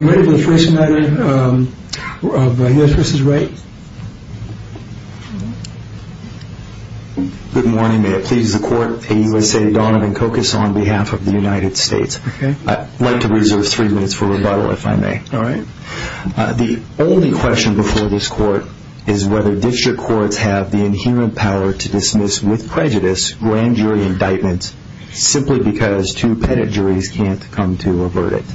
Good morning, may it please the court, A. U. S. A. Donovan Kokus on behalf of the United States. I'd like to reserve three minutes for rebuttal, if I may. The only question before this court is whether district courts have the inherent power to dismiss with prejudice grand jury indictments simply because two pettit juries can't come to a verdict.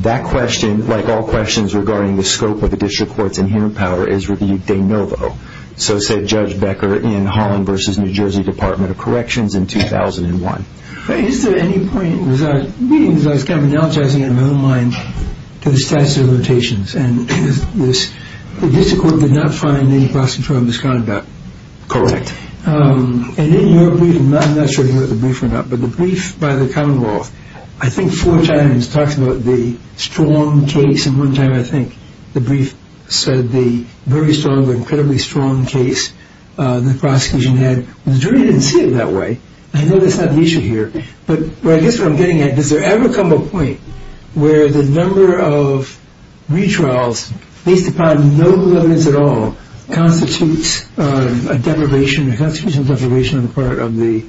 That question, like all questions regarding the scope of the district courts inherent power is reviewed de novo, so said Judge Becker in Holland v. New Jersey Department of Corrections in 2001. Is there any point, as I was kind of analogizing in my own mind to the statute of limitations and this, the district court did not find any prosecutorial misconduct. Correct. And in your brief, I'm not sure if you read the brief or not, but the brief by the Commonwealth, I think four times talks about the strong case and one time I think the brief said the very strong, incredibly strong case the prosecution had. The jury didn't see it that way. I know that's not the issue here, but I guess what I'm getting at, does there ever come a point where the number of retrials, based upon no evidence at all, constitutes a deprivation, a constitutional deprivation on the part of the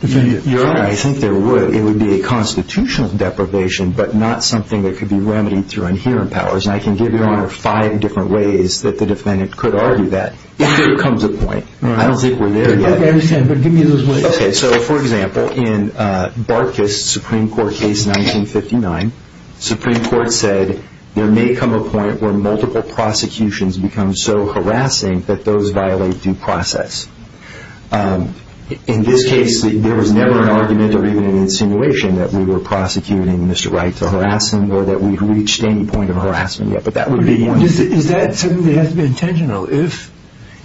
defendant? You're right, I think there would. It would be a constitutional deprivation, but not something that could be remedied through inherent powers. And I can give Your Honor five different ways that the defendant could argue that, if there comes a point. I don't think we're there yet. Okay, I understand, but give me those ways. Okay, so for example, in Barkus' Supreme Court case in 1959, the Supreme Court said there may come a point where multiple prosecutions become so harassing that those violate due process. In this case, there was never an argument or even an insinuation that we were prosecuting Mr. Wright to harassment or that we'd reached any point of harassment yet, but that would be one. Is that something that has to be intentional? If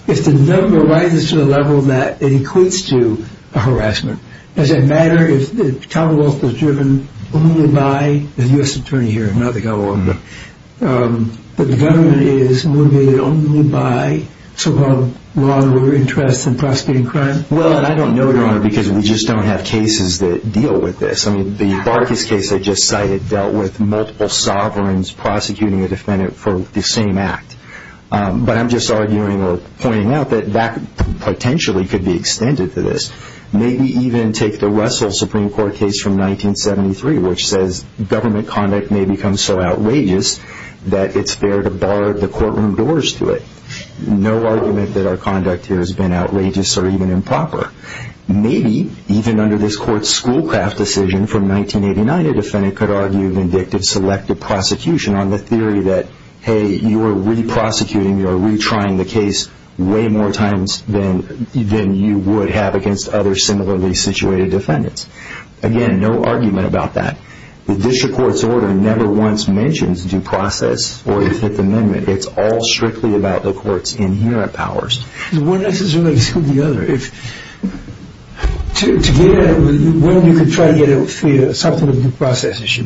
the number rises to the level that it equates to a harassment, does it matter if the Commonwealth was driven only by the U.S. Attorney here, not the Commonwealth, but the government is motivated only by so-called law and order interests in prosecuting crime? Well, I don't know, Your Honor, because we just don't have cases that deal with this. I mean, the Barkus case I just cited dealt with multiple sovereigns prosecuting a defendant for the same act, but I'm just arguing or pointing out that that potentially could be extended to this. Maybe even take the Russell Supreme Court case from 1973, which says government conduct may become so outrageous that it's fair to bar the courtroom doors to it. No argument that our conduct here has been outrageous or even improper. Maybe even under this court's Schoolcraft decision from 1989, a defendant could argue vindictive selective prosecution on the theory that, hey, you are re-prosecuting, you are re-trying the case way more times than you would have against other similarly situated defendants. Again, no argument about that. The district court's order never once mentions due process or the Fifth Amendment. It's all strictly about the court's inherent powers. One is related to the other. To get at it, one, you could try to get it free of something of a due process issue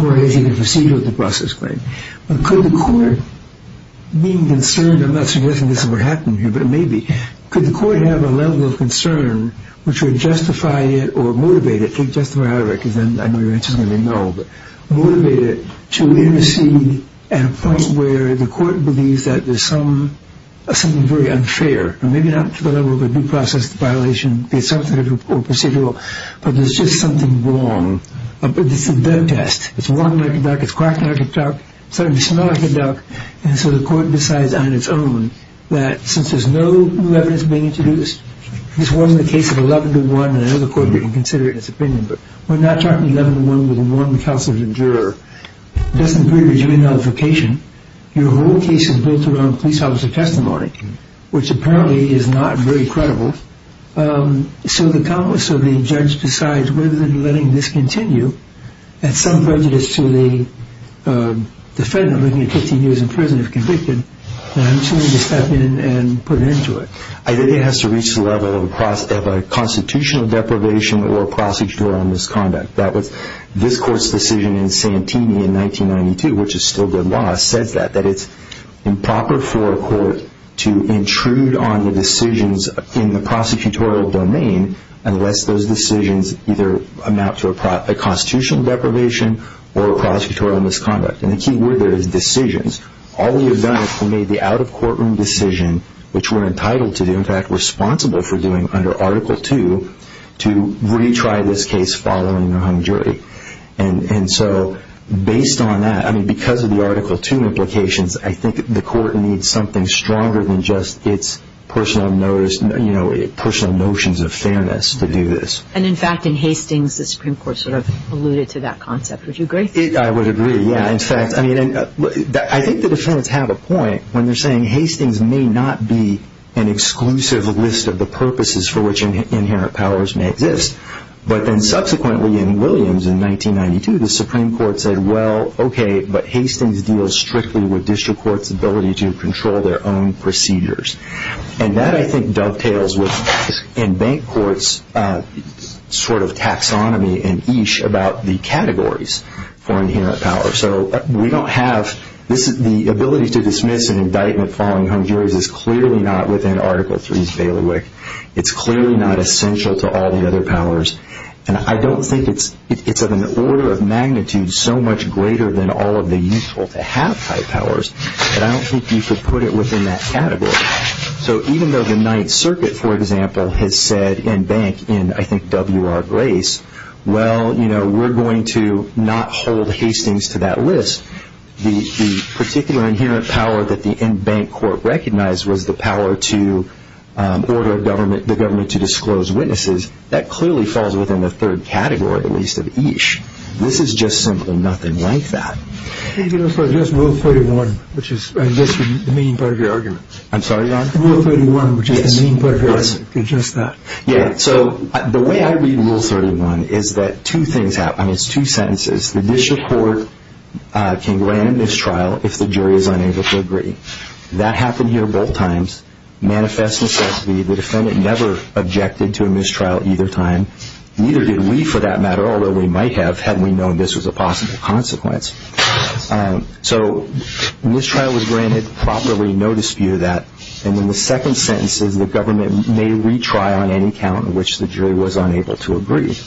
or a procedure of a due process claim. But could the court, being concerned, I'm not suggesting this is what happened here, but maybe, could the court have a level of concern which would justify it or motivate it, justify however, because then I know your answer is going to be no, but motivate it to intercede at a point where the court believes that there's something very unfair. Maybe not to the level of a due process violation, be it substantive or procedural, but there's just something wrong. It's a dead test. It's long like a duck, it's cracked like a duck, it's starting to smell like a duck. And so the court decides on its own that since there's no new evidence being introduced, this wasn't a case of 11 to 1, and I know the court didn't consider it in its opinion, but we're not talking 11 to 1 with one counsel to the juror. It doesn't create a jury nullification. Your whole case is built around police officer testimony, which apparently is not very credible. So the countless of the judge decides whether they're letting this continue, and some prejudice to the defendant looking at 15 years in prison if convicted, and I'm just going to step in and put an end to it. I think it has to reach the level of a constitutional deprivation or a procedural misconduct. That was this court's decision in Santini in 1992, which is still good law, says that. That it's improper for a court to intrude on the decisions in the prosecutorial domain unless those decisions either amount to a constitutional deprivation or a prosecutorial misconduct. And the key word there is decisions. All the evidence that made the out-of-courtroom decision, which we're entitled to do, in fact responsible for doing under Article 2, to retry this case following a hung jury. And so based on that, I mean, because of the Article 2 implications, I think the court needs something stronger than just its personal notions of fairness to do this. And in fact, in Hastings, the Supreme Court sort of alluded to that concept. Would you agree? I would agree, yeah. In fact, I mean, I think the defendants have a point when they're saying Hastings may not be an exclusive list of the purposes for which inherent powers may exist, but then subsequently in Williams in 1992, the Supreme Court said, well, okay, but Hastings deals strictly with district courts' ability to control their own procedures. And that, I think, dovetails with, in bank courts' sort of taxonomy and ish about the categories for inherent power. So we don't have, the ability to dismiss an indictment following hung juries is clearly not within Article 3's bailiwick. It's clearly not essential to all the other powers. And I don't think it's of an order of magnitude so much greater than all of the useful-to-have type powers, but I don't think you could put it within that category. So even though the Ninth Circuit, for example, has said in bank, in, I think, W.R. Grace, well, you know, we're going to not hold Hastings to that list. The particular inherent power that the in-bank court recognized was the power to order the government to disclose witnesses. That clearly falls within the third category, at least, of ish. This is just simply nothing like that. Can you just address Rule 31, which is, I guess, the main part of your argument? I'm sorry, Your Honor? Rule 31, which is the main part of your argument. Can you address that? Yeah. So the way I read Rule 31 is that two things happen. It's two sentences. The district court can grant a mistrial if the jury is unable to agree. That happened here both times. Manifest necessity. The defendant never objected to a mistrial either time. Neither did we, for that matter, although we might have had we known this was a possible consequence. So mistrial was granted. Properly, no dispute of that. And then the second sentence is the government may retry on any count in which the jury was unable to agree.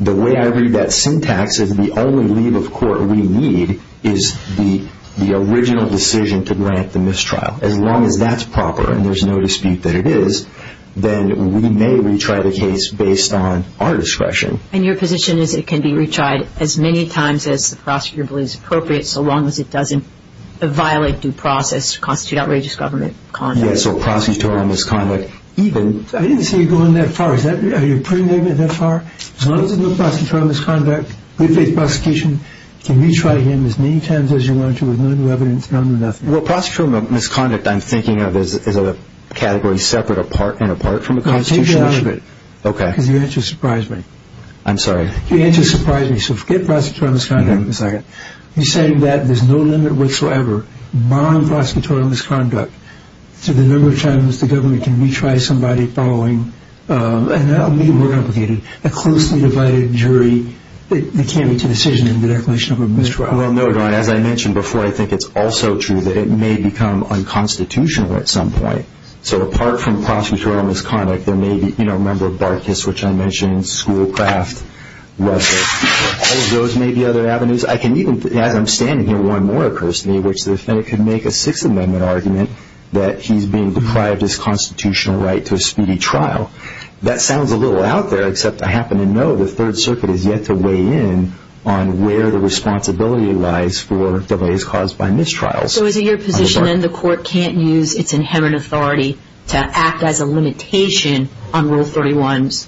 The way I read that syntax is the only leave of court we need is the original decision to grant the mistrial. As long as that's proper and there's no dispute that it is, then we may retry the case based on our discretion. And your position is it can be retried as many times as the prosecutor believes appropriate, so long as it doesn't violate due process, constitute outrageous government conduct. Yeah, so prosecutorial misconduct even. I didn't see you going that far. Are you putting it that far? As long as there's no prosecutorial misconduct, we face prosecution. You can retry him as many times as you want to with no new evidence, none or nothing. Well, prosecutorial misconduct I'm thinking of is a category separate and apart from a constitutional issue. Take that out of it. Because your answer surprised me. I'm sorry? Your answer surprised me. So forget prosecutorial misconduct for a second. You're saying that there's no limit whatsoever, barring prosecutorial misconduct, to the number of times the government can retry somebody following, and that will be more complicated, a closely divided jury that can't make a decision in the declaration of a mistrial. Well, no, your Honor. As I mentioned before, I think it's also true that it may become unconstitutional at some point. So apart from prosecutorial misconduct, there may be, you know, remember Barkis, which I mentioned, Schoolcraft, Russell. All of those may be other avenues. I can even, as I'm standing here, one more occurs to me, which the defendant could make a Sixth Amendment argument that he's being deprived his constitutional right to a speedy trial. That sounds a little out there, except I happen to know the Third Circuit has yet to weigh in on where the responsibility lies for delays caused by mistrials. So is it your position then the court can't use its inherent authority to act as a limitation on Rule 31's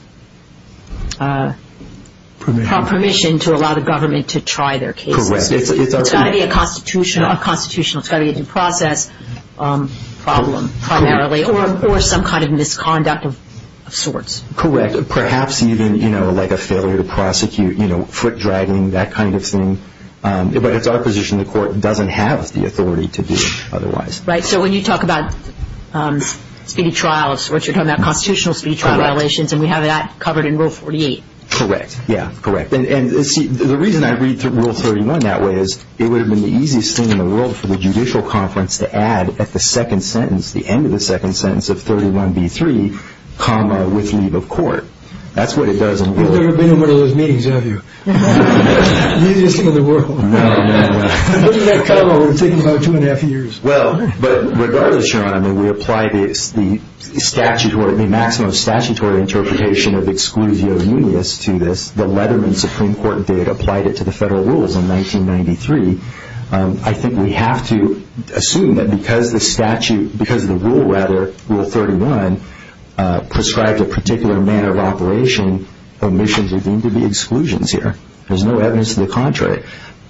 permission to allow the government to try their cases? Correct. It's got to be a constitutional, it's got to be a due process problem primarily, or some kind of misconduct of sorts. Correct. Perhaps even, you know, like a failure to prosecute, you know, foot dragging, that kind of thing. But it's our position the court doesn't have the authority to do otherwise. Right. So when you talk about speedy trials, what you're talking about constitutional speedy trial violations, and we have that covered in Rule 48. Correct. Yeah, correct. And see, the reason I read Rule 31 that way is it would have been the easiest thing in the world for the judicial conference to add at the second sentence, the end of the second sentence of 31b3, comma, with leave of court. That's what it does in Rule 31. You've never been in one of those meetings, have you? The easiest thing in the world. No, no, no. Putting that comma would have taken about two and a half years. Well, but regardless, Your Honor, I mean, we apply the statutory, the maximum statutory interpretation of exclusio munis to this. The Leatherman Supreme Court did apply it to the federal rules in 1993. I think we have to assume that because the statute, because the rule rather, Rule 31, prescribed a particular manner of operation, omissions are deemed to be exclusions here. There's no evidence to the contrary.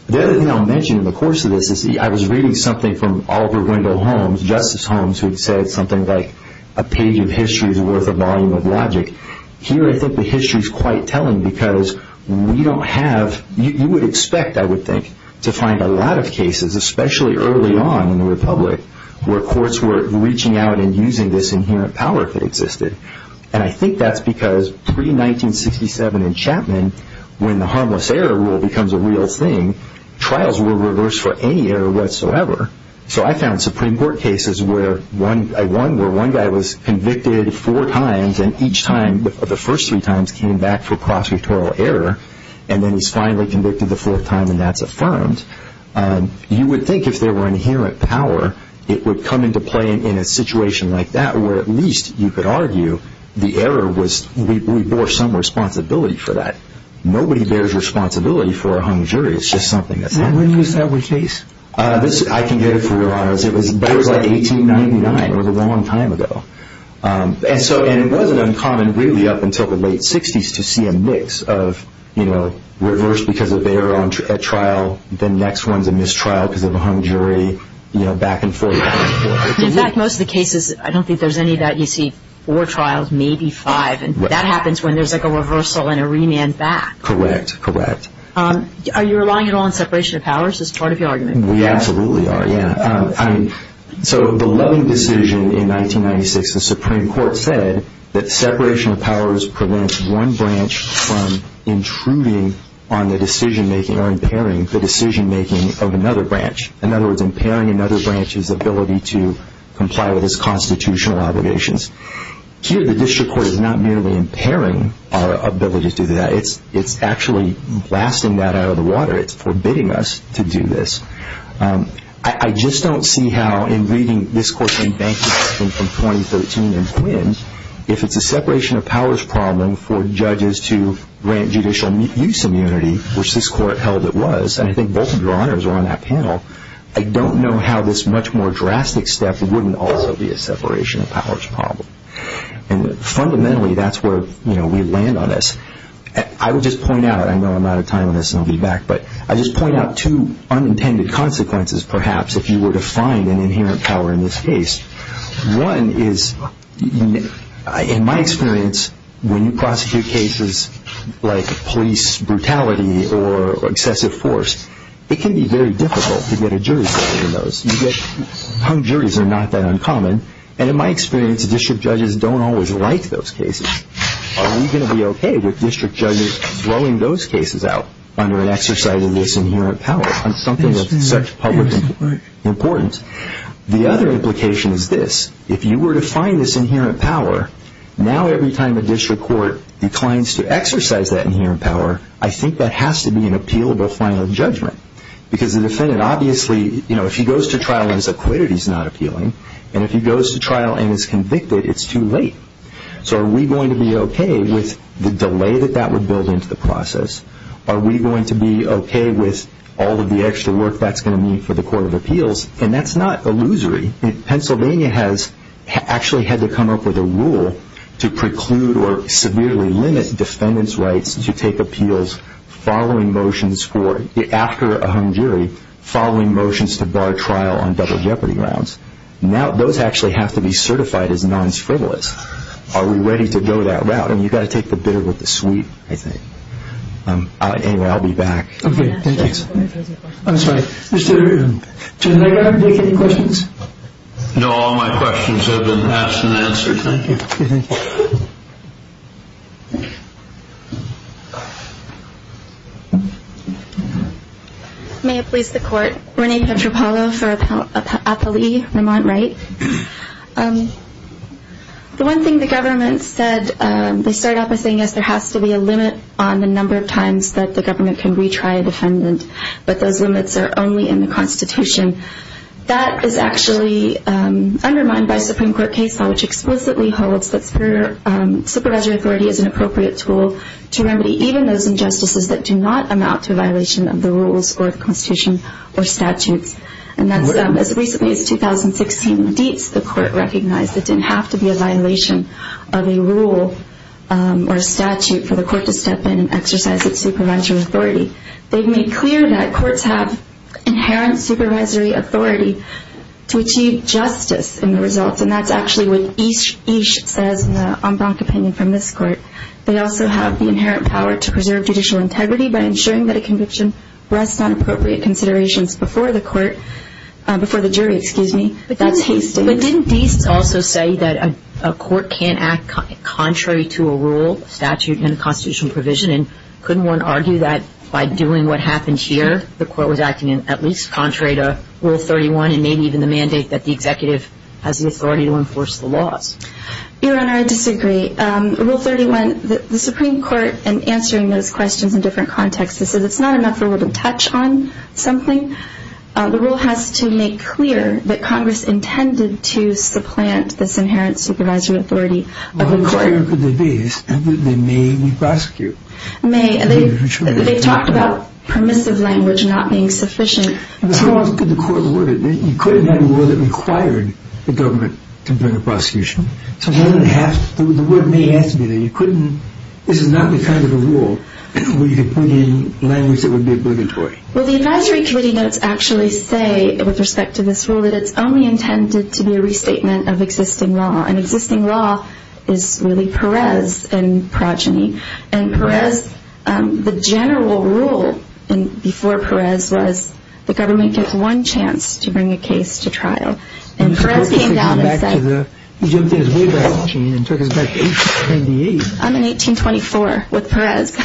The other thing I'll mention in the course of this is I was reading something from Oliver Wendell Holmes, Justice Holmes, who had said something like a page of history is worth a volume of logic. Here I think the history is quite telling because we don't have, you would expect, I would think, to find a lot of cases, especially early on in the Republic, where courts were reaching out and using this inherent power that existed. And I think that's because pre-1967 in Chapman, when the harmless error rule becomes a real thing, trials were reversed for any error whatsoever. So I found Supreme Court cases where one guy was convicted four times, and each time the first three times came back for prosecutorial error, and then he's finally convicted the fourth time and that's affirmed. You would think if there were inherent power, it would come into play in a situation like that where at least you could argue the error was we bore some responsibility for that. Nobody bears responsibility for a hung jury. It's just something that's happened. When was that case? I can get it for you, Your Honors. But it was like 1899. It was a long time ago. And it wasn't uncommon really up until the late 60s to see a mix of, you know, reversed because of error at trial, then next one's a mistrial because of a hung jury, you know, back and forth. In fact, most of the cases, I don't think there's any that you see four trials, maybe five, and that happens when there's like a reversal and a remand back. Correct, correct. Are you relying at all on separation of powers as part of your argument? We absolutely are, yeah. So the Loving decision in 1996, the Supreme Court said that separation of powers prevents one branch from intruding on the decision-making or impairing the decision-making of another branch. In other words, impairing another branch's ability to comply with its constitutional obligations. Here, the district court is not merely impairing our ability to do that. It's actually blasting that out of the water. It's forbidding us to do this. I just don't see how in reading this court's bank statement from 2013 and when, if it's a separation of powers problem for judges to grant judicial use immunity, which this court held it was, and I think both of your honors are on that panel, I don't know how this much more drastic step wouldn't also be a separation of powers problem. And fundamentally, that's where, you know, we land on this. I would just point out, I know I'm out of time on this and I'll be back, but I just point out two unintended consequences, perhaps, if you were to find an inherent power in this case. One is, in my experience, when you prosecute cases like police brutality or excessive force, it can be very difficult to get a jury's opinion on those. You get hung juries are not that uncommon. And in my experience, district judges don't always like those cases. Are we going to be okay with district judges blowing those cases out under an exercise of this inherent power, on something of such public importance? The other implication is this. If you were to find this inherent power, now every time a district court declines to exercise that inherent power, I think that has to be an appealable final judgment. Because the defendant obviously, you know, if he goes to trial and is acquitted, he's not appealing. And if he goes to trial and is convicted, it's too late. So are we going to be okay with the delay that that would build into the process? Are we going to be okay with all of the extra work that's going to need for the court of appeals? And that's not illusory. Pennsylvania has actually had to come up with a rule to preclude or severely limit defendants' rights to take appeals following motions for, after a hung jury, following motions to bar trial on double jeopardy grounds. Now those actually have to be certified as non-frivolous. Are we ready to go that route? And you've got to take the bitter with the sweet, I think. Anyway, I'll be back. Okay, thank you. I'm sorry. Mr. Schneider, do you have any questions? No. All my questions have been asked and answered. Thank you. Okay, thank you. May it please the Court. Renee Petropalo for Appali, Vermont, right? The one thing the government said, they started off by saying, yes, there has to be a limit on the number of times that the government can retry a defendant, but those limits are only in the Constitution. That is actually undermined by Supreme Court case law, which explicitly holds that supervisory authority is an appropriate tool to remedy even those injustices that do not amount to a violation of the rules or the Constitution or statutes. And that's as recently as 2016. The court recognized it didn't have to be a violation of a rule or a statute for the court to step in and exercise its supervisory authority. They've made clear that courts have inherent supervisory authority to achieve justice in the results, and that's actually what each says in the en branche opinion from this court. They also have the inherent power to preserve judicial integrity by ensuring that a conviction rests on appropriate considerations before the court, before the jury, excuse me. But didn't Deist also say that a court can't act contrary to a rule, statute, and constitutional provision, and couldn't one argue that by doing what happened here, the court was acting at least contrary to Rule 31 and maybe even the mandate that the executive has the authority to enforce the laws? Your Honor, I disagree. Rule 31, the Supreme Court, in answering those questions in different contexts, says it's not enough for one to touch on something. The rule has to make clear that Congress intended to supplant this inherent supervisory authority. Well, the requirement for Deist is that they may be prosecuted. They've talked about permissive language not being sufficient. How else could the court have worded it? You couldn't have a rule that required the government to bring a prosecution. So the word may have to be there. This is not the kind of a rule where you could put in language that would be obligatory. Well, the advisory committee notes actually say, with respect to this rule, that it's only intended to be a restatement of existing law. And existing law is really Perez and progeny. And Perez, the general rule before Perez was the government gets one chance to bring a case to trial. And Perez came down and said... He jumped in way back in the chain and took us back to 1828. I'm in 1824 with Perez. But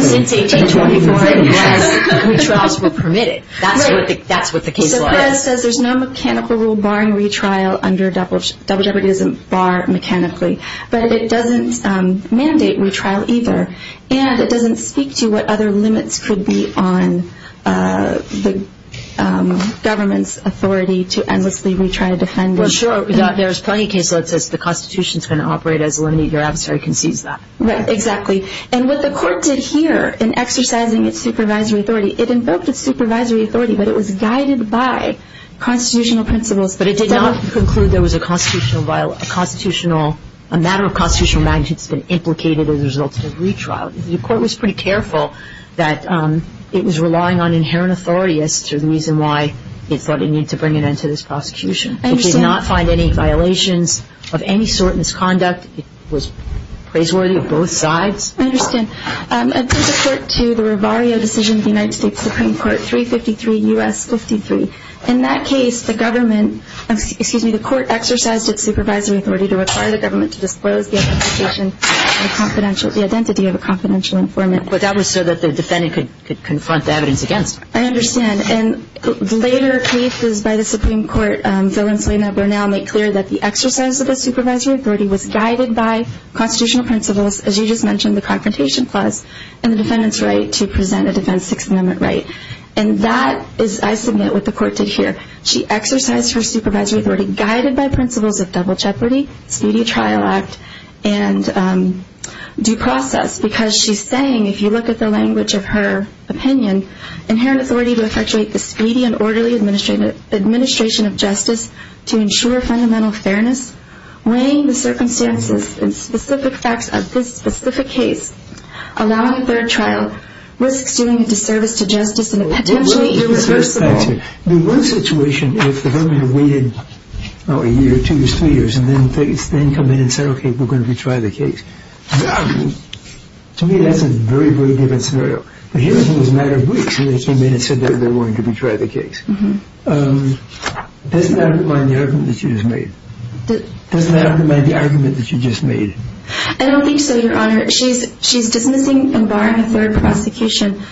since 1824, Perez, retrials were permitted. That's what the case law is. So Perez says there's no mechanical rule barring retrial under double jeopardy. It doesn't bar mechanically. But it doesn't mandate retrial either. And it doesn't speak to what other limits could be on the government's authority to endlessly retry a defendant. Well, sure, there's plenty of cases where it says the Constitution is going to operate as a limit. Your adversary can seize that. Right, exactly. And what the court did here in exercising its supervisory authority, it invoked its supervisory authority, but it was guided by constitutional principles. But it did not conclude there was a matter of constitutional magnitude that's been implicated as a result of the retrial. The court was pretty careful that it was relying on inherent authority as to the reason why it thought it needed to bring an end to this prosecution. I understand. It did not find any violations of any sort, misconduct. It was praiseworthy of both sides. I understand. In support to the Rivario decision of the United States Supreme Court, 353 U.S. 53, in that case, the government ‑‑ excuse me, the court exercised its supervisory authority to require the government to disclose the identification or the identity of a confidential informant. But that was so that the defendant could confront the evidence against them. I understand. And later cases by the Supreme Court, Phil and Selena Burnell, make clear that the exercise of the supervisory authority was guided by constitutional principles, as you just mentioned, the confrontation clause, and the defendant's right to present a defense 6th Amendment right. And that is, I submit, what the court did here. She exercised her supervisory authority guided by principles of double jeopardy, speedy trial act, and due process. Because she's saying, if you look at the language of her opinion, inherent authority to effectuate the speedy and orderly administration of justice to ensure fundamental fairness, weighing the circumstances and specific facts of this specific case, allowing a third trial risks doing a disservice to justice and potentially irreversible. The one situation, if the government waited a year, two years, three years, and then come in and say, OK, we're going to retry the case. To me, that's a very, very different scenario. But here it was a matter of weeks, and they came in and said that they're going to retry the case. Does that undermine the argument that you just made? Does that undermine the argument that you just made? I don't think so, Your Honor. She's dismissing and barring a third prosecution.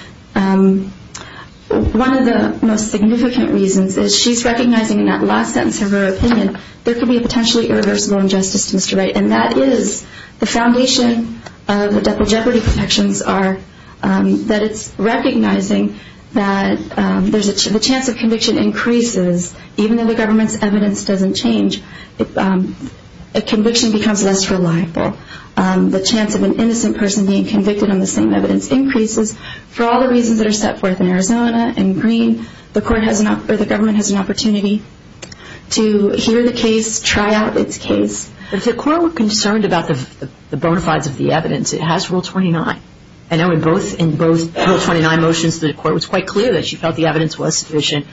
One of the most significant reasons is she's recognizing in that last sentence of her opinion there could be a potentially irreversible injustice to Mr. Wright, and that is the foundation of the double jeopardy protections are that it's recognizing that the chance of conviction increases. Even though the government's evidence doesn't change, a conviction becomes less reliable. The chance of an innocent person being convicted on the same evidence increases. For all the reasons that are set forth in Arizona and Green, the government has an opportunity to hear the case, try out its case. If the court were concerned about the bona fides of the evidence, it has Rule 29. I know in both Rule 29 motions the court was quite clear that she felt the evidence was sufficient.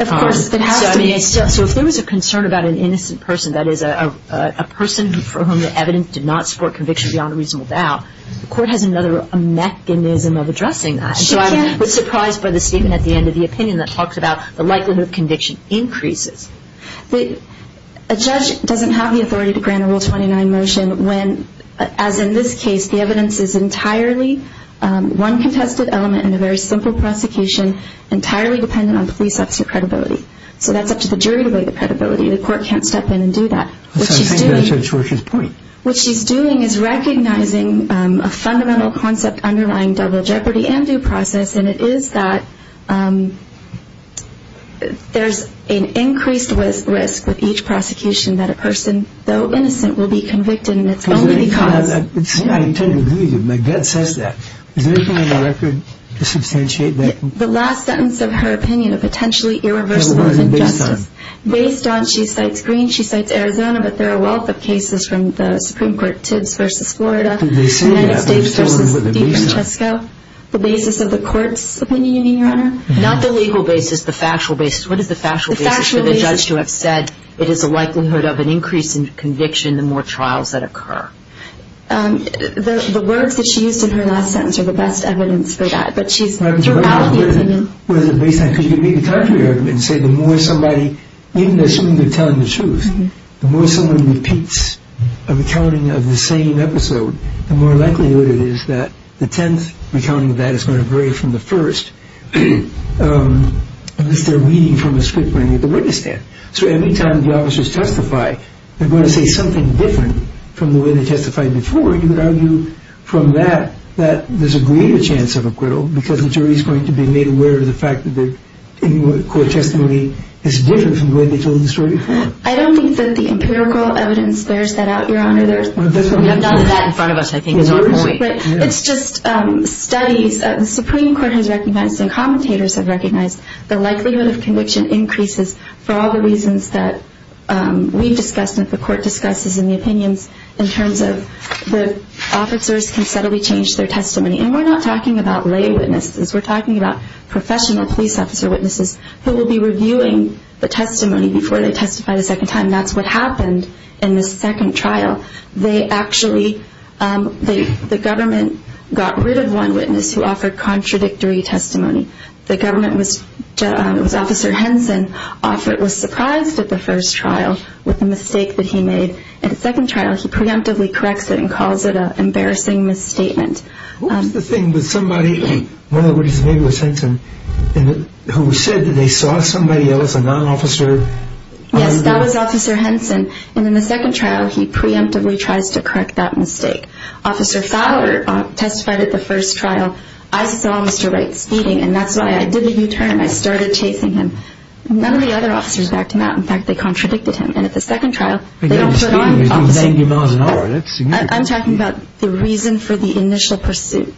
Of course, it has to be. So if there was a concern about an innocent person, that is a person for whom the evidence did not support conviction beyond a reasonable doubt, the court has another mechanism of addressing that. So I was surprised by the statement at the end of the opinion that talks about the likelihood of conviction increases. A judge doesn't have the authority to grant a Rule 29 motion when, as in this case, the evidence is entirely one contested element in a very simple prosecution, entirely dependent on police officer credibility. So that's up to the jury to weigh the credibility. The court can't step in and do that. That sounds like Judge Rorke's point. What she's doing is recognizing a fundamental concept underlying double jeopardy and due process, and it is that there's an increased risk with each prosecution that a person, though innocent, will be convicted and it's only because. I intend to agree with you. My gut says that. Is there anything on the record to substantiate that? The last sentence of her opinion, a potentially irreversible injustice. Based on? She cites Greene. She cites Arizona. But there are a wealth of cases from the Supreme Court, Tibbs v. Florida. Did they say that? And then Stapes v. DeFrancisco. The basis of the court's opinion, Your Honor? Not the legal basis, the factual basis. What is the factual basis for the judge to have said it is a likelihood of an increase in conviction the more trials that occur? The words that she used in her last sentence are the best evidence for that. But she's throughout the opinion. Because you can make a contrary argument and say the more somebody, even assuming they're telling the truth, the more someone repeats a recounting of the same episode, the more likely it is that the tenth recounting of that is going to vary from the first, unless they're reading from a script written at the witness stand. So every time the officers testify, they're going to say something different from the way they testified before. You could argue from that that there's a greater chance of acquittal because the jury is going to be made aware of the fact that any court testimony is different from the way they told the story before. I don't think that the empirical evidence bears that out, Your Honor. We have none of that in front of us, I think, is our point. It's just studies. The Supreme Court has recognized and commentators have recognized the likelihood of conviction increases for all the reasons that we've discussed and the court discusses in the opinions in terms of the officers can subtly change their testimony. And we're not talking about lay witnesses. We're talking about professional police officer witnesses who will be reviewing the testimony before they testify the second time. That's what happened in the second trial. They actually, the government got rid of one witness who offered contradictory testimony. The government was, Officer Henson was surprised at the first trial with the mistake that he made. In the second trial, he preemptively corrects it and calls it an embarrassing misstatement. What was the thing that somebody, one of the witnesses maybe was Henson, who said that they saw somebody else, a non-officer? Yes, that was Officer Henson. And in the second trial, he preemptively tries to correct that mistake. Officer Fowler testified at the first trial, I saw Mr. Wright speeding and that's why I did the U-turn and I started chasing him. None of the other officers backed him out. In fact, they contradicted him. And at the second trial, they don't put on the opposite. I'm talking about the reason for the initial pursuit.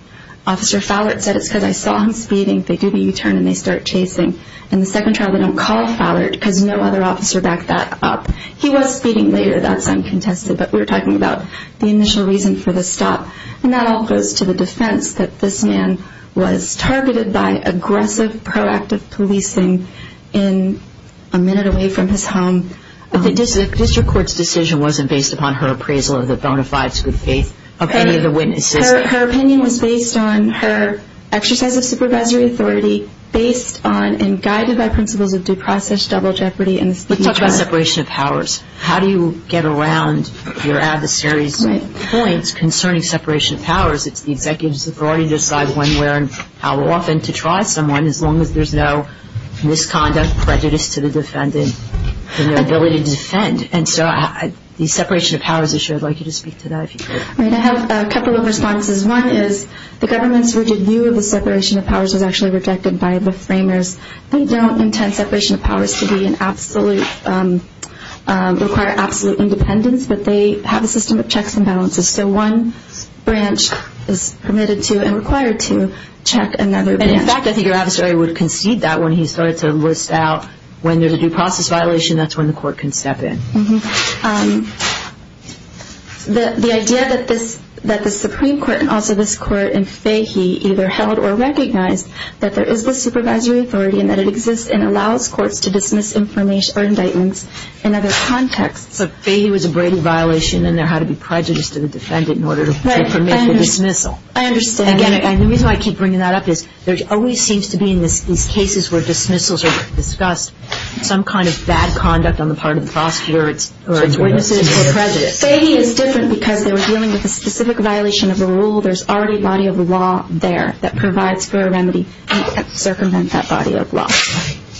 Officer Fowler said it's because I saw him speeding, they do the U-turn and they start chasing. In the second trial, they don't call Fowler because no other officer backed that up. He was speeding later, that's uncontested, but we're talking about the initial reason for the stop. And that all goes to the defense that this man was targeted by aggressive, proactive policing in a minute away from his home. But the district court's decision wasn't based upon her appraisal of the bona fides good faith of any of the witnesses. Her opinion was based on her exercise of supervisory authority, based on and guided by principles of due process, double jeopardy, and the speed of justice. Let's talk about separation of powers. How do you get around your adversary's points concerning separation of powers? It's the executive authority to decide when, where, and how often to try someone as long as there's no misconduct, prejudice to the defendant, and their ability to defend. And so the separation of powers issue, I'd like you to speak to that if you could. I have a couple of responses. One is the government's rigid view of the separation of powers was actually rejected by the framers. They don't intend separation of powers to require absolute independence, but they have a system of checks and balances. So one branch is permitted to and required to check another branch. And, in fact, I think your adversary would concede that when he started to list out when there's a due process violation, that's when the court can step in. The idea that the Supreme Court and also this Court in Fahy either held or recognized that there is this supervisory authority and that it exists and allows courts to dismiss information or indictments in other contexts. So Fahy was a Brady violation and there had to be prejudice to the defendant in order to permit the dismissal. I understand. And, again, the reason I keep bringing that up is there always seems to be in these cases where dismissals are discussed some kind of bad conduct on the part of the prosecutor or its witnesses or prejudice. Fahy is different because they were dealing with a specific violation of a rule. There's already a body of law there that provides for a remedy to circumvent that body of law.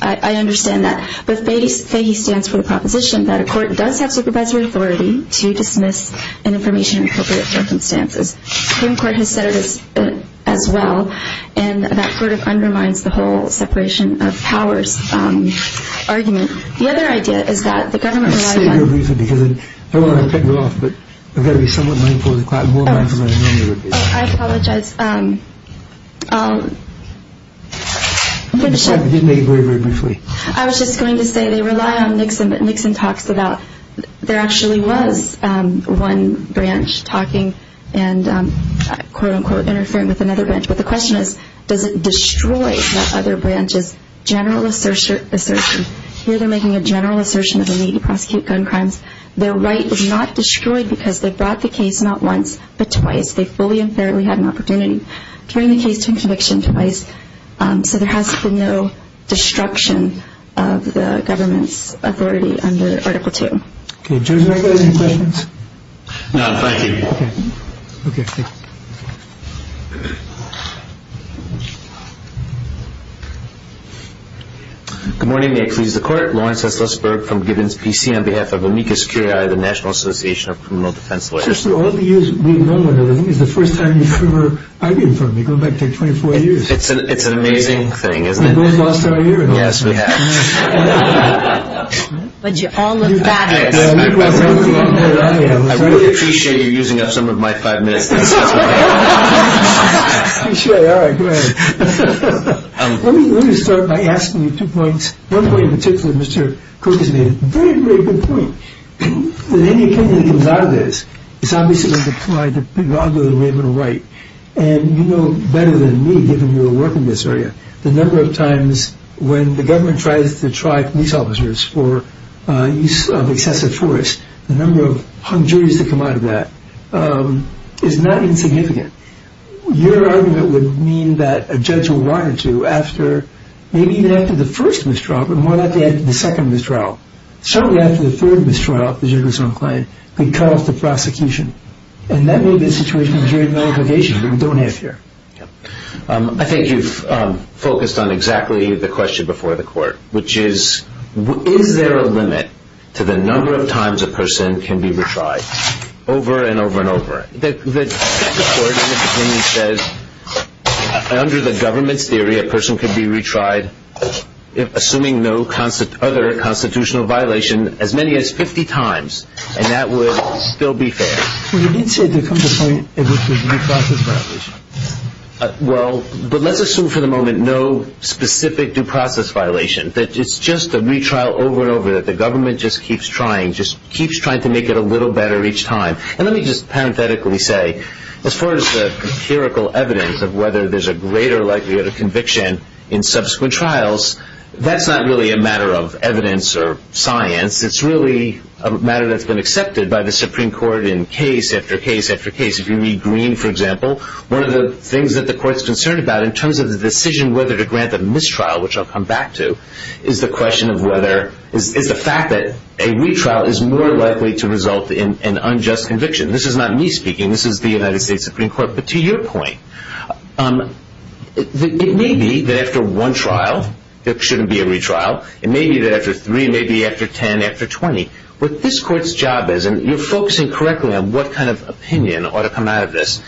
I understand that. But Fahy stands for the proposition that a court does have supervisory authority to dismiss information in appropriate circumstances. Supreme Court has said it as well. And that sort of undermines the whole separation of powers argument. The other idea is that the government relies on I'm going to stay here briefly because I don't want to cut you off, but I've got to be somewhat mindful of the clock, more mindful than I normally would be. Oh, I apologize. I didn't make it very, very briefly. I was just going to say they rely on Nixon, but Nixon talks about there actually was one branch talking and, quote, unquote, interfering with another branch. But the question is, does it destroy that other branch's general assertion? Here they're making a general assertion of the need to prosecute gun crimes. Their right is not destroyed because they brought the case not once, but twice. They fully and fairly had an opportunity during the case to conviction twice. So there has been no destruction of the government's authority under Article II. Okay. Good morning. May it please the Court. Lawrence Estlisberg from Gibbons PC on behalf of Amicus Curiae, the National Association of Criminal Defense Lawyers. Just for all the years we've known one another, this is the first time you've ever identified me, going back 24 years. It's an amazing thing, isn't it? We've both lost our hearing. Yes, we have. But you all have got it. I really appreciate you using up some of my time. All right. Go ahead. Let me start by asking you two points. One point in particular, Mr. Cook, is a very, very good point. If any company comes out of this, it's obviously going to be under the right. And you know better than me, given your work in this area, the number of times when the government tries to try police officers for use of excessive force, the number of hung juries that come out of that. It's not insignificant. Your argument would mean that a judge will want to, after, maybe even after the first mistrial, but more likely after the second mistrial, shortly after the third mistrial, if the judge is not inclined, could cut off the prosecution. And that may be a situation of jury nullification that we don't have here. I think you've focused on exactly the question before the court, which is, is there a limit to the number of times a person can be retried over and over and over? The court, in its opinion, says under the government's theory, a person could be retried assuming no other constitutional violation as many as 50 times, and that would still be fair. Well, you did say there comes a point at which there's due process violation. Well, but let's assume for the moment no specific due process violation, that it's just a retrial over and over, that the government just keeps trying, just keeps trying to make it a little better each time. And let me just parenthetically say, as far as the empirical evidence of whether there's a greater likelihood of conviction in subsequent trials, that's not really a matter of evidence or science. It's really a matter that's been accepted by the Supreme Court in case after case after case. If you read Green, for example, one of the things that the court's concerned about in terms of the decision whether to grant the mistrial, which I'll come back to, is the question of whether, is the fact that a retrial is more likely to result in an unjust conviction. This is not me speaking. This is the United States Supreme Court. But to your point, it may be that after one trial there shouldn't be a retrial. It may be that after three, it may be after 10, after 20. What this court's job is, and you're focusing correctly on what kind of opinion ought to come out of this,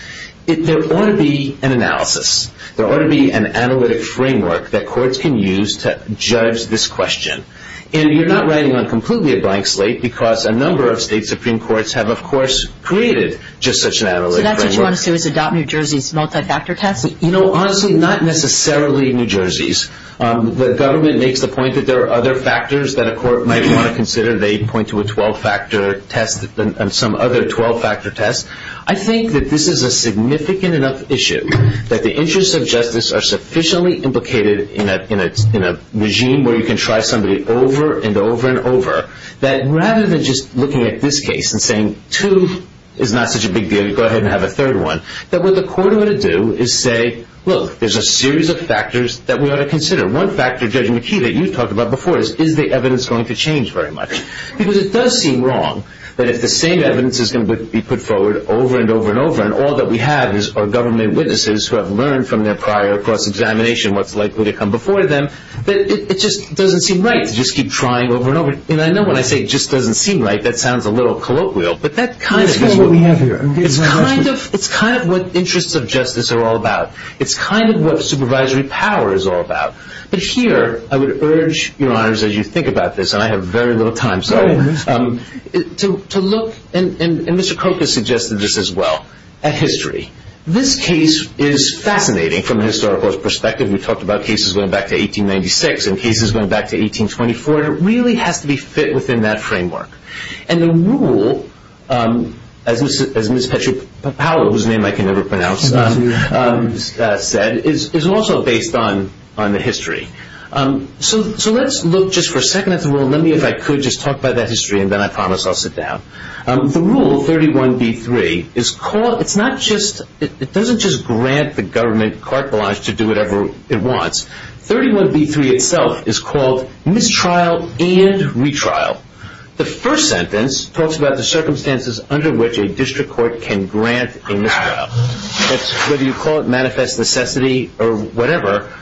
there ought to be an analysis. There ought to be an analytic framework that courts can use to judge this question. And you're not writing on completely a blank slate because a number of state Supreme Courts have, of course, created just such an analytic framework. So that's what you want to do, is adopt New Jersey's multi-factor test? You know, honestly, not necessarily New Jersey's. The government makes the point that there are other factors that a court might want to consider. They point to a 12-factor test and some other 12-factor tests. I think that this is a significant enough issue that the interests of justice are sufficiently implicated in a regime where you can try somebody over and over and over, that rather than just looking at this case and saying two is not such a big deal, you go ahead and have a third one, that what the court ought to do is say, look, there's a series of factors that we ought to consider. One factor, Judge McKee, that you've talked about before is, is the evidence going to change very much? Because it does seem wrong that if the same evidence is going to be put forward over and over and over and all that we have is our government witnesses who have learned from their prior cross-examination what's likely to come before them, that it just doesn't seem right to just keep trying over and over. And I know when I say it just doesn't seem right, that sounds a little colloquial, but that kind of is what we have here. It's kind of what interests of justice are all about. It's kind of what supervisory power is all about. But here I would urge, Your Honors, as you think about this, and I have very little time, sorry, to look, and Mr. Koch has suggested this as well, at history. This case is fascinating from a historical perspective. We've talked about cases going back to 1896 and cases going back to 1824, and it really has to be fit within that framework. And the rule, as Ms. Petrie-Powell, whose name I can never pronounce, said, is also based on the history. So let's look just for a second at the rule. Let me, if I could, just talk about that history, and then I promise I'll sit down. The rule, 31b-3, it's not just, it doesn't just grant the government carte blanche to do whatever it wants. 31b-3 itself is called mistrial and retrial. The first sentence talks about the circumstances under which a district court can grant a mistrial. Whether you call it manifest necessity or whatever,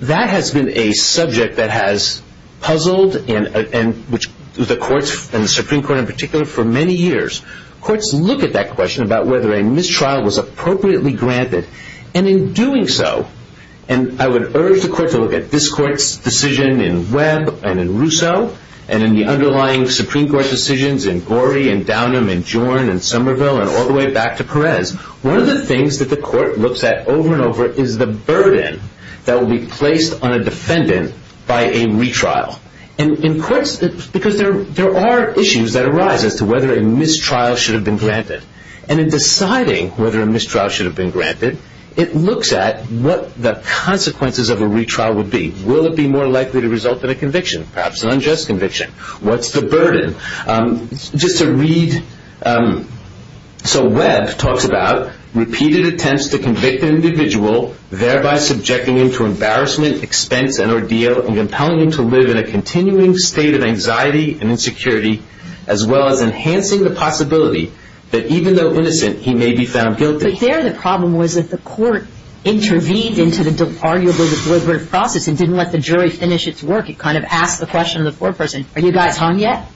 that has been a subject that has puzzled the courts, and the Supreme Court in particular, for many years. Courts look at that question about whether a mistrial was appropriately granted. And in doing so, and I would urge the court to look at this court's decision in Webb and in Rousseau, and in the underlying Supreme Court decisions in Gorey and Downam and Jorn and Somerville and all the way back to Perez. One of the things that the court looks at over and over is the burden that will be placed on a defendant by a retrial. And in courts, because there are issues that arise as to whether a mistrial should have been granted. And in deciding whether a mistrial should have been granted, it looks at what the consequences of a retrial would be. Will it be more likely to result in a conviction, perhaps an unjust conviction? What's the burden? Just to read, so Webb talks about repeated attempts to convict an individual, thereby subjecting him to embarrassment, expense, and ordeal, and compelling him to live in a continuing state of anxiety and insecurity, as well as enhancing the possibility that even though innocent, he may be found guilty. But there the problem was that the court intervened into arguably the deliberative process and didn't let the jury finish its work. It kind of asked the question of the court person, are you guys hung yet?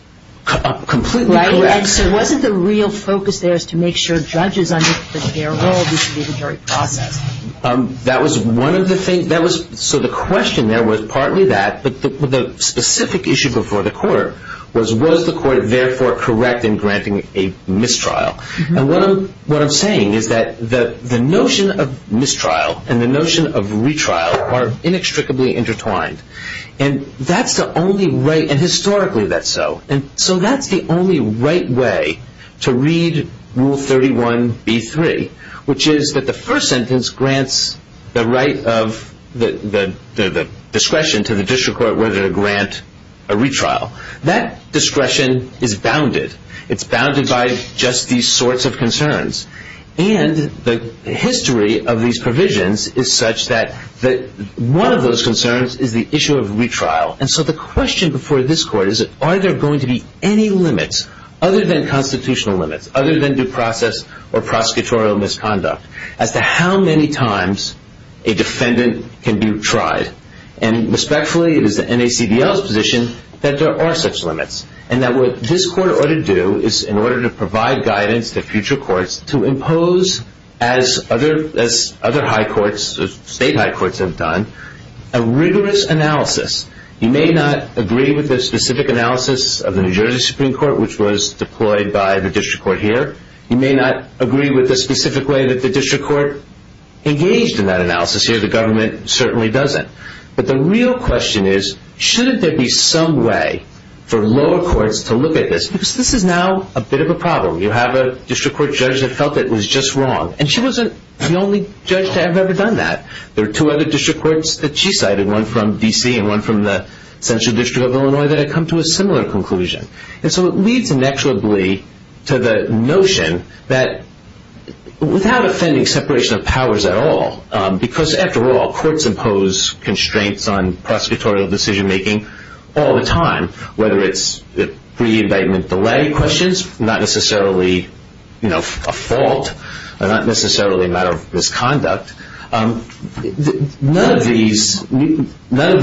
Completely correct. And so wasn't the real focus there is to make sure judges understood their role in the jury process? That was one of the things. So the question there was partly that. But the specific issue before the court was, was the court therefore correct in granting a mistrial? And what I'm saying is that the notion of mistrial and the notion of retrial are inextricably intertwined. And that's the only right, and historically that's so. And so that's the only right way to read Rule 31b-3, which is that the first sentence grants the right of the discretion to the district court whether to grant a retrial. That discretion is bounded. It's bounded by just these sorts of concerns. And the history of these provisions is such that one of those concerns is the issue of retrial. And so the question before this court is, are there going to be any limits other than constitutional limits, other than due process or prosecutorial misconduct, as to how many times a defendant can be tried? And respectfully, it is the NACDL's position that there are such limits, and that what this court ought to do is in order to provide guidance to future courts to impose, as other high courts, state high courts have done, a rigorous analysis. You may not agree with the specific analysis of the New Jersey Supreme Court, which was deployed by the district court here. You may not agree with the specific way that the district court engaged in that analysis here. The government certainly doesn't. But the real question is, shouldn't there be some way for lower courts to look at this? Because this is now a bit of a problem. You have a district court judge that felt it was just wrong, and she wasn't the only judge to have ever done that. There are two other district courts that she cited, one from D.C. and one from the Central District of Illinois, that have come to a similar conclusion. And so it leads, inexorably, to the notion that without offending separation of powers at all, because, after all, courts impose constraints on prosecutorial decision-making all the time, whether it's pre-indictment delay questions, not necessarily a fault, not necessarily a matter of misconduct. None of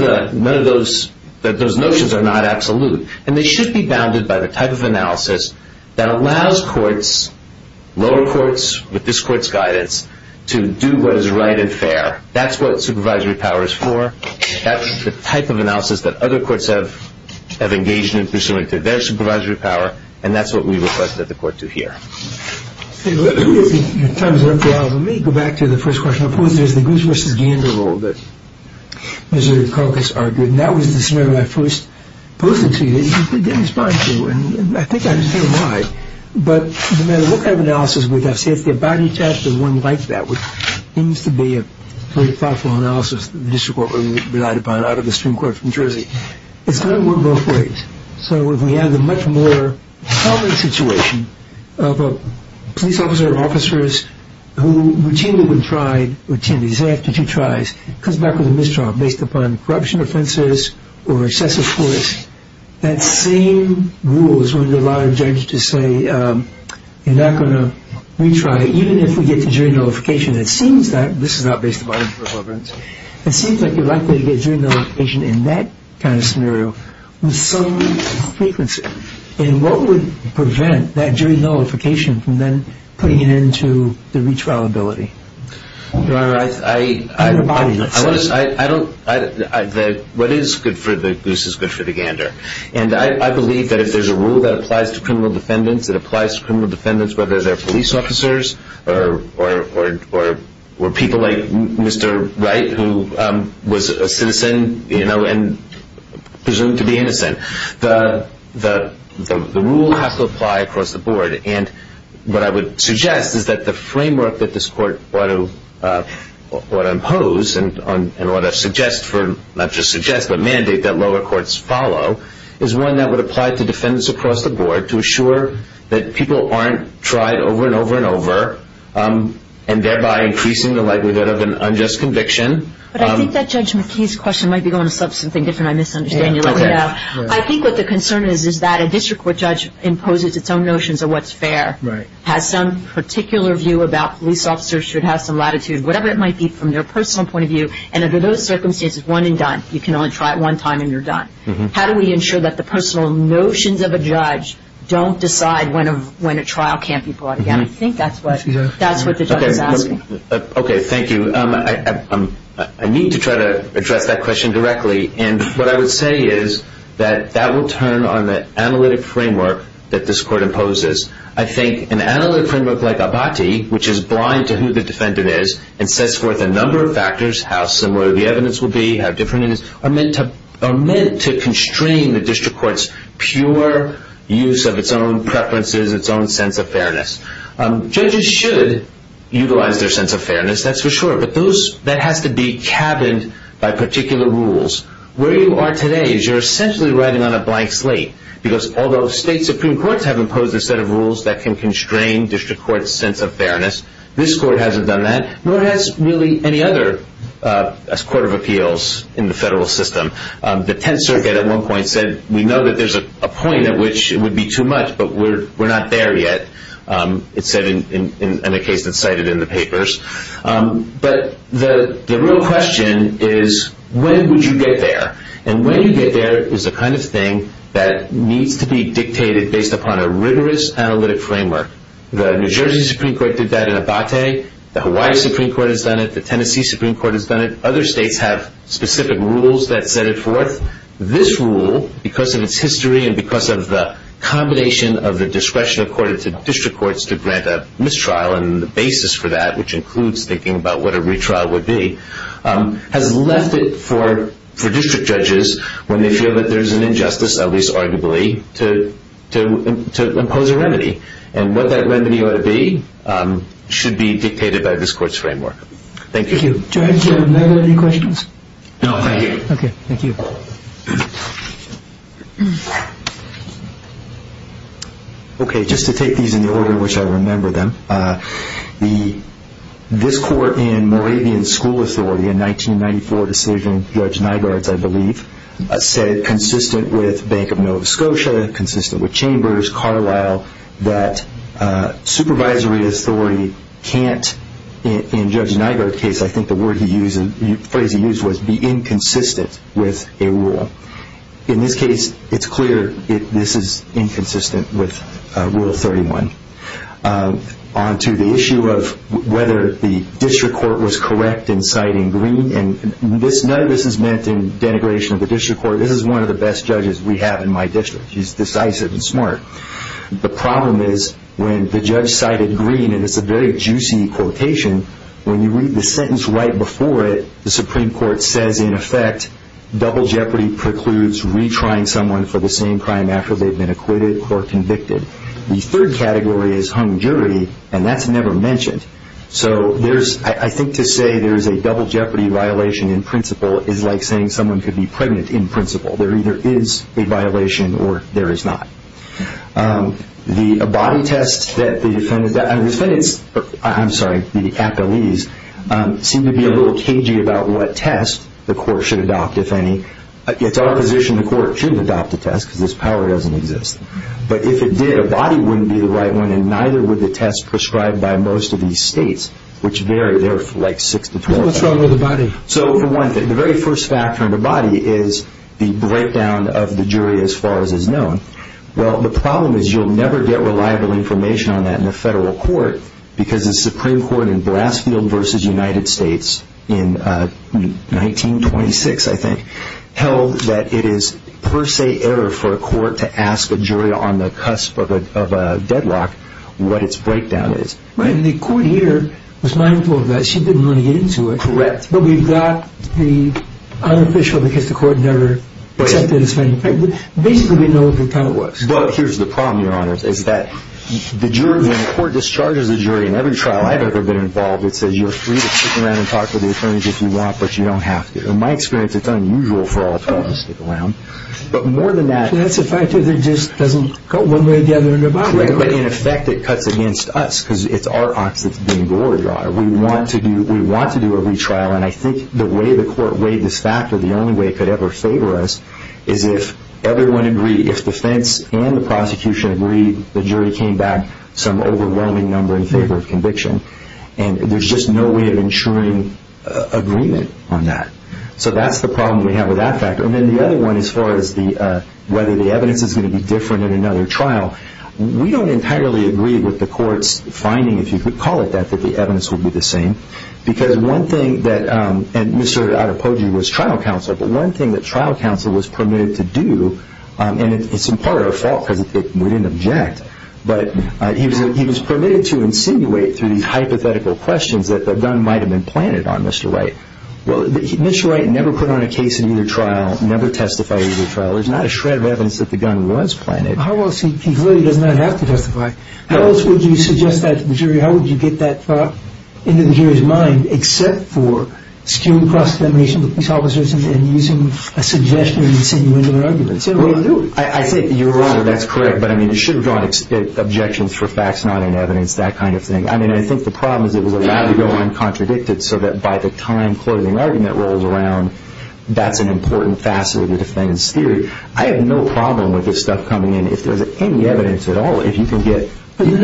those notions are not absolute, and they should be bounded by the type of analysis that allows courts, lower courts with this court's guidance, to do what is right and fair. That's what supervisory power is for. That's the type of analysis that other courts have engaged in pursuant to their supervisory power, and that's what we request that the court do here. Let me go back to the first question I posed. There's the Goose v. Gander rule that Missouri caucus argued, and that was the scenario I first posed it to you. You didn't respond to it, and I think I understand why. But no matter what kind of analysis we have, say it's the Abadie test or one like that, which seems to be a very thoughtful analysis of the district court we relied upon out of the Supreme Court from Jersey, it's going to work both ways. So if we have the much more prevalent situation of a police officer or officers who routinely when tried, routinely, say after two tries, comes back with a mistrial based upon corruption offenses or excessive force, that same rule is going to allow a judge to say, you're not going to retry, even if we get to jury notification. It seems that, and this is not based upon irreverence, it seems like you're likely to get jury notification in that kind of scenario with some frequency, and what would prevent that jury notification from then putting it into the retrial ability? Your Honor, I don't, what is good for the Goose is good for the Gander. And I believe that if there's a rule that applies to criminal defendants, it applies to criminal defendants whether they're police officers or people like Mr. Wright who was a citizen, you know, and presumed to be innocent. The rule has to apply across the board. And what I would suggest is that the framework that this court ought to impose and ought to suggest for, not just suggest, but mandate that lower courts follow, is one that would apply to defendants across the board to assure that people aren't tried over and over and over, and thereby increasing the likelihood of an unjust conviction. But I think that Judge McKee's question might be going to something different. I misunderstand. You let me know. I think what the concern is is that a district court judge imposes its own notions of what's fair, has some particular view about police officers should have some latitude, whatever it might be from their personal point of view, and under those circumstances, one and done. You can only try it one time and you're done. How do we ensure that the personal notions of a judge don't decide when a trial can't be brought again? I think that's what the judge is asking. Okay. Thank you. I need to try to address that question directly, and what I would say is that that will turn on the analytic framework that this court imposes. I think an analytic framework like Abati, which is blind to who the defendant is, and sets forth a number of factors, how similar the evidence will be, how different it is, are meant to constrain the district court's pure use of its own preferences, its own sense of fairness. Judges should utilize their sense of fairness, that's for sure, but that has to be cabined by particular rules. Where you are today is you're essentially riding on a blank slate, because although state supreme courts have imposed a set of rules that can constrain district court's sense of fairness, this court hasn't done that, nor has really any other court of appeals in the federal system. The Tenth Circuit at one point said we know that there's a point at which it would be too much, but we're not there yet, it said in a case that's cited in the papers. But the real question is when would you get there? And when you get there is the kind of thing that needs to be dictated based upon a rigorous analytic framework. The New Jersey Supreme Court did that in Abati. The Hawaii Supreme Court has done it. The Tennessee Supreme Court has done it. Other states have specific rules that set it forth. This rule, because of its history and because of the combination of the discretion accorded to district courts to grant a mistrial and the basis for that, which includes thinking about what a retrial would be, has left it for district judges when they feel that there's an injustice, at least arguably, to impose a remedy. And what that remedy ought to be should be dictated by this court's framework. Thank you. Thank you. Judge, are there any questions? No, thank you. Okay, thank you. Okay, just to take these in the order in which I remember them, this court in Moravian School Authority in 1994 decision, Judge Nygaard's, I believe, said consistent with Bank of Nova Scotia, consistent with Chambers, Carlisle, that supervisory authority can't, in Judge Nygaard's case, I think the phrase he used was, be inconsistent with a rule. In this case, it's clear this is inconsistent with Rule 31. On to the issue of whether the district court was correct in citing green, and none of this is meant in denigration of the district court. This is one of the best judges we have in my district. He's decisive and smart. The problem is when the judge cited green, and it's a very juicy quotation, when you read the sentence right before it, the Supreme Court says, in effect, double jeopardy precludes retrying someone for the same crime after they've been acquitted or convicted. The third category is hung jury, and that's never mentioned. So I think to say there's a double jeopardy violation in principle is like saying someone could be pregnant in principle. There either is a violation or there is not. The body test that the defendants, I'm sorry, the appellees, seem to be a little cagey about what test the court should adopt, if any. It's our position the court should adopt a test because this power doesn't exist. But if it did, a body wouldn't be the right one, and neither would the test prescribed by most of these states, which vary. They're like 6 to 12. So what's wrong with a body? So for one thing, the very first factor in the body is the breakdown of the jury as far as is known. Well, the problem is you'll never get reliable information on that in a federal court because the Supreme Court in Blassfield v. United States in 1926, I think, held that it is per se error for a court to ask a jury on the cusp of a deadlock what its breakdown is. Right, and the court here was mindful of that. She didn't want to get into it. Correct. But we've got the unofficial because the court never accepted it as being pregnant. Basically, we know what the problem was. But here's the problem, Your Honor, is that the court discharges the jury in every trial I've ever been involved. It says you're free to stick around and talk to the attorneys if you want, but you don't have to. In my experience, it's unusual for all attorneys to stick around. But more than that, That's the fact that it just doesn't go one way or the other in a body. In effect, it cuts against us because it's our ox that's being gored, Your Honor. We want to do a retrial, and I think the way the court weighed this factor, the only way it could ever favor us is if everyone agreed, if defense and the prosecution agreed, the jury came back some overwhelming number in favor of conviction. And there's just no way of ensuring agreement on that. So that's the problem we have with that factor. And then the other one as far as whether the evidence is going to be different in another trial, we don't entirely agree with the court's finding, if you could call it that, that the evidence would be the same. Because one thing that, and Mr. Adepogi was trial counsel, but one thing that trial counsel was permitted to do, and it's in part our fault because we didn't object, but he was permitted to insinuate through these hypothetical questions that the gun might have been planted on Mr. Wright. Well, Mr. Wright never put on a case in either trial, never testified in either trial. There's not a shred of evidence that the gun was planted. How else, he clearly does not have to testify. How else would you suggest that to the jury? How would you get that thought into the jury's mind except for skewing cross-examination with police officers and using a suggestion to insinuate an argument? Well, I think you're right. That's correct. But, I mean, you should have drawn objections for facts not in evidence, that kind of thing. I mean, I think the problem is it was allowed to go uncontradicted so that by the time closing argument rolls around, that's an important facet of the defendant's theory. I have no problem with this stuff coming in. If there's any evidence at all, if you can get... You've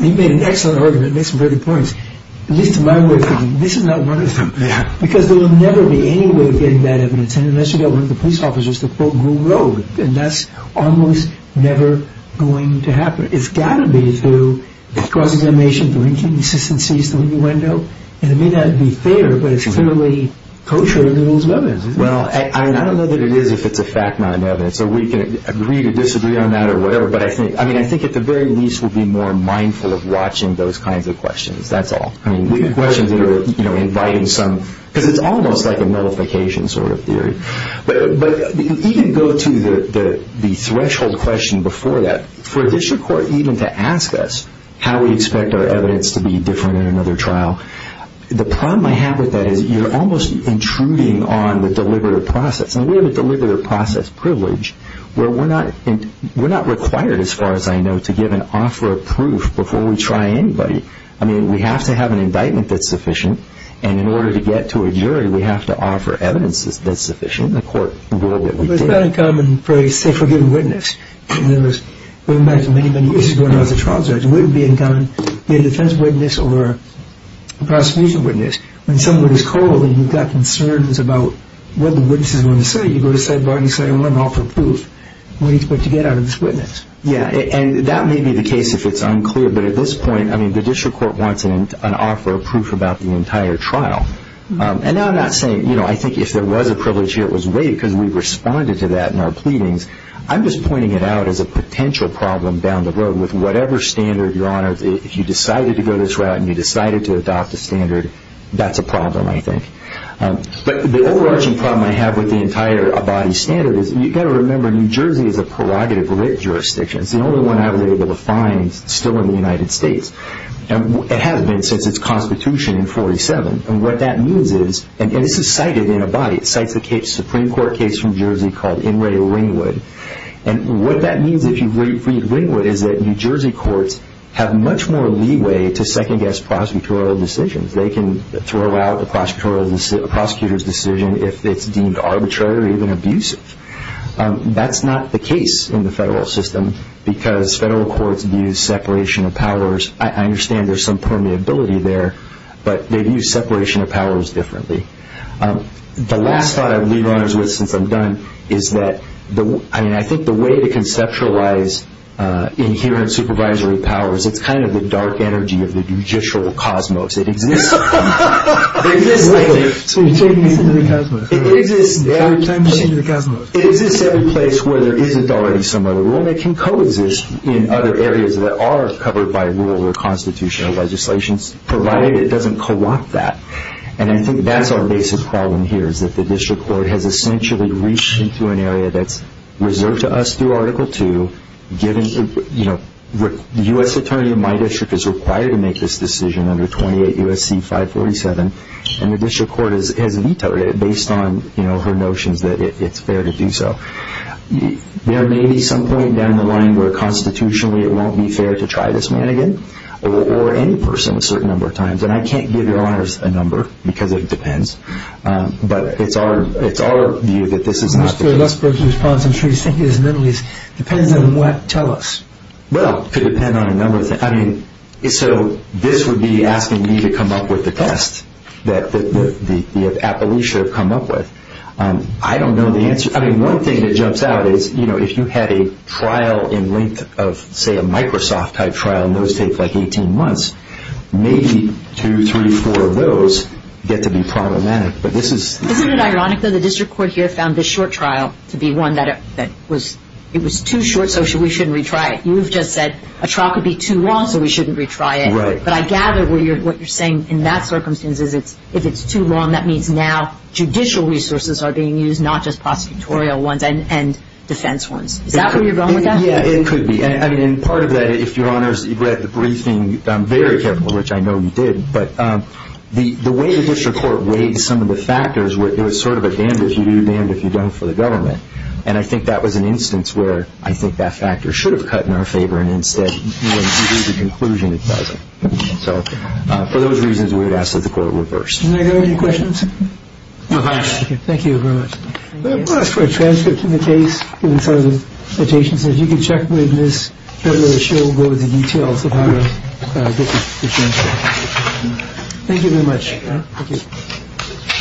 made an excellent argument and made some very good points. At least to my way of thinking, this is not one of them. Because there will never be any way of getting bad evidence unless you get one of the police officers to quote Green Road. And that's almost never going to happen. It's got to be through cross-examination, drinking, insistencies, the window. And it may not be fair, but it's clearly kosher than the rules of evidence. Well, I don't know that it is if it's a fact not in evidence. So we can agree to disagree on that or whatever. But I think at the very least we'll be more mindful of watching those kinds of questions. That's all. I mean, we have questions that are inviting some... Because it's almost like a nullification sort of theory. But even go to the threshold question before that, for a district court even to ask us how we expect our evidence to be different in another trial, the problem I have with that is you're almost intruding on the deliberative process. And we have a deliberative process privilege where we're not required, as far as I know, to give an offer of proof before we try anybody. I mean, we have to have an indictment that's sufficient. And in order to get to a jury, we have to offer evidence that's sufficient. The court ruled that we did. But it's not uncommon for a safe or given witness. We imagine many, many cases going on as a trial judge. It wouldn't be uncommon to be a defense witness or a prosecution witness. When someone is called and you've got concerns about what the witness is going to say, you go to sidebar and you say, I want to offer proof. What do you expect to get out of this witness? Yeah, and that may be the case if it's unclear. But at this point, I mean, the district court wants an offer of proof about the entire trial. And now I'm not saying, you know, I think if there was a privilege here, it was waived because we responded to that in our pleadings. I'm just pointing it out as a potential problem down the road with whatever standard, Your Honor, if you decided to go this route and you decided to adopt a standard, that's a problem, I think. But the overarching problem I have with the entire Abadi standard is you've got to remember, New Jersey is a prerogative-lit jurisdiction. It's the only one I was able to find still in the United States. It hasn't been since its constitution in 1947. And what that means is, and this is cited in Abadi. It cites a Supreme Court case from Jersey called In Re Ringwood. And what that means, if you read Ringwood, is that New Jersey courts have much more leeway to second-guess prosecutorial decisions. They can throw out a prosecutor's decision if it's deemed arbitrary or even abusive. That's not the case in the federal system because federal courts view separation of powers. I understand there's some permeability there, but they view separation of powers differently. The last thought I'm going to leave you with since I'm done is that, I mean, I think the way to conceptualize inherent supervisory powers, it's kind of the dark energy of the judicial cosmos. It exists every place where there isn't already some other rule. It can coexist in other areas that are covered by rule or constitutional legislations, provided it doesn't co-opt that. And I think that's our basic problem here, is that the district court has essentially reached into an area that's reserved to us through Article II. The U.S. attorney in my district is required to make this decision under 28 U.S.C. 547, and the district court has vetoed it based on her notions that it's fair to do so. There may be some point down the line where constitutionally it won't be fair to try this man again or any person a certain number of times. And I can't give your honors a number, because it depends. But it's our view that this is not the case. Mr. Westbrook, your response, I'm sure you're thinking this mentally, depends on what? Tell us. Well, it could depend on a number of things. I mean, so this would be asking me to come up with a test that the appellees should have come up with. I don't know the answer. I mean, one thing that jumps out is, you know, if you had a trial in length of, say, a Microsoft-type trial, and those take like 18 months, maybe two, three, four of those get to be problematic. Isn't it ironic, though, the district court here found this short trial to be one that was too short, so we shouldn't retry it? You've just said a trial could be too long, so we shouldn't retry it. Right. But I gather what you're saying in that circumstance is if it's too long, that means now judicial resources are being used, not just prosecutorial ones and defense ones. Is that where you're going with that? Yeah, it could be. I mean, part of that, if Your Honors, you've read the briefing very carefully, which I know you did, but the way the district court weighed some of the factors, it was sort of a damned if you do, damned if you don't for the government. And I think that was an instance where I think that factor should have cut in our favor, and instead, when you do the conclusion, it doesn't. So for those reasons, we would ask that the court reverse. Do I have any questions? No, if I may. Thank you very much. Transfer to the case. Notations that you can check with this show. Go to the details. Thank you very much.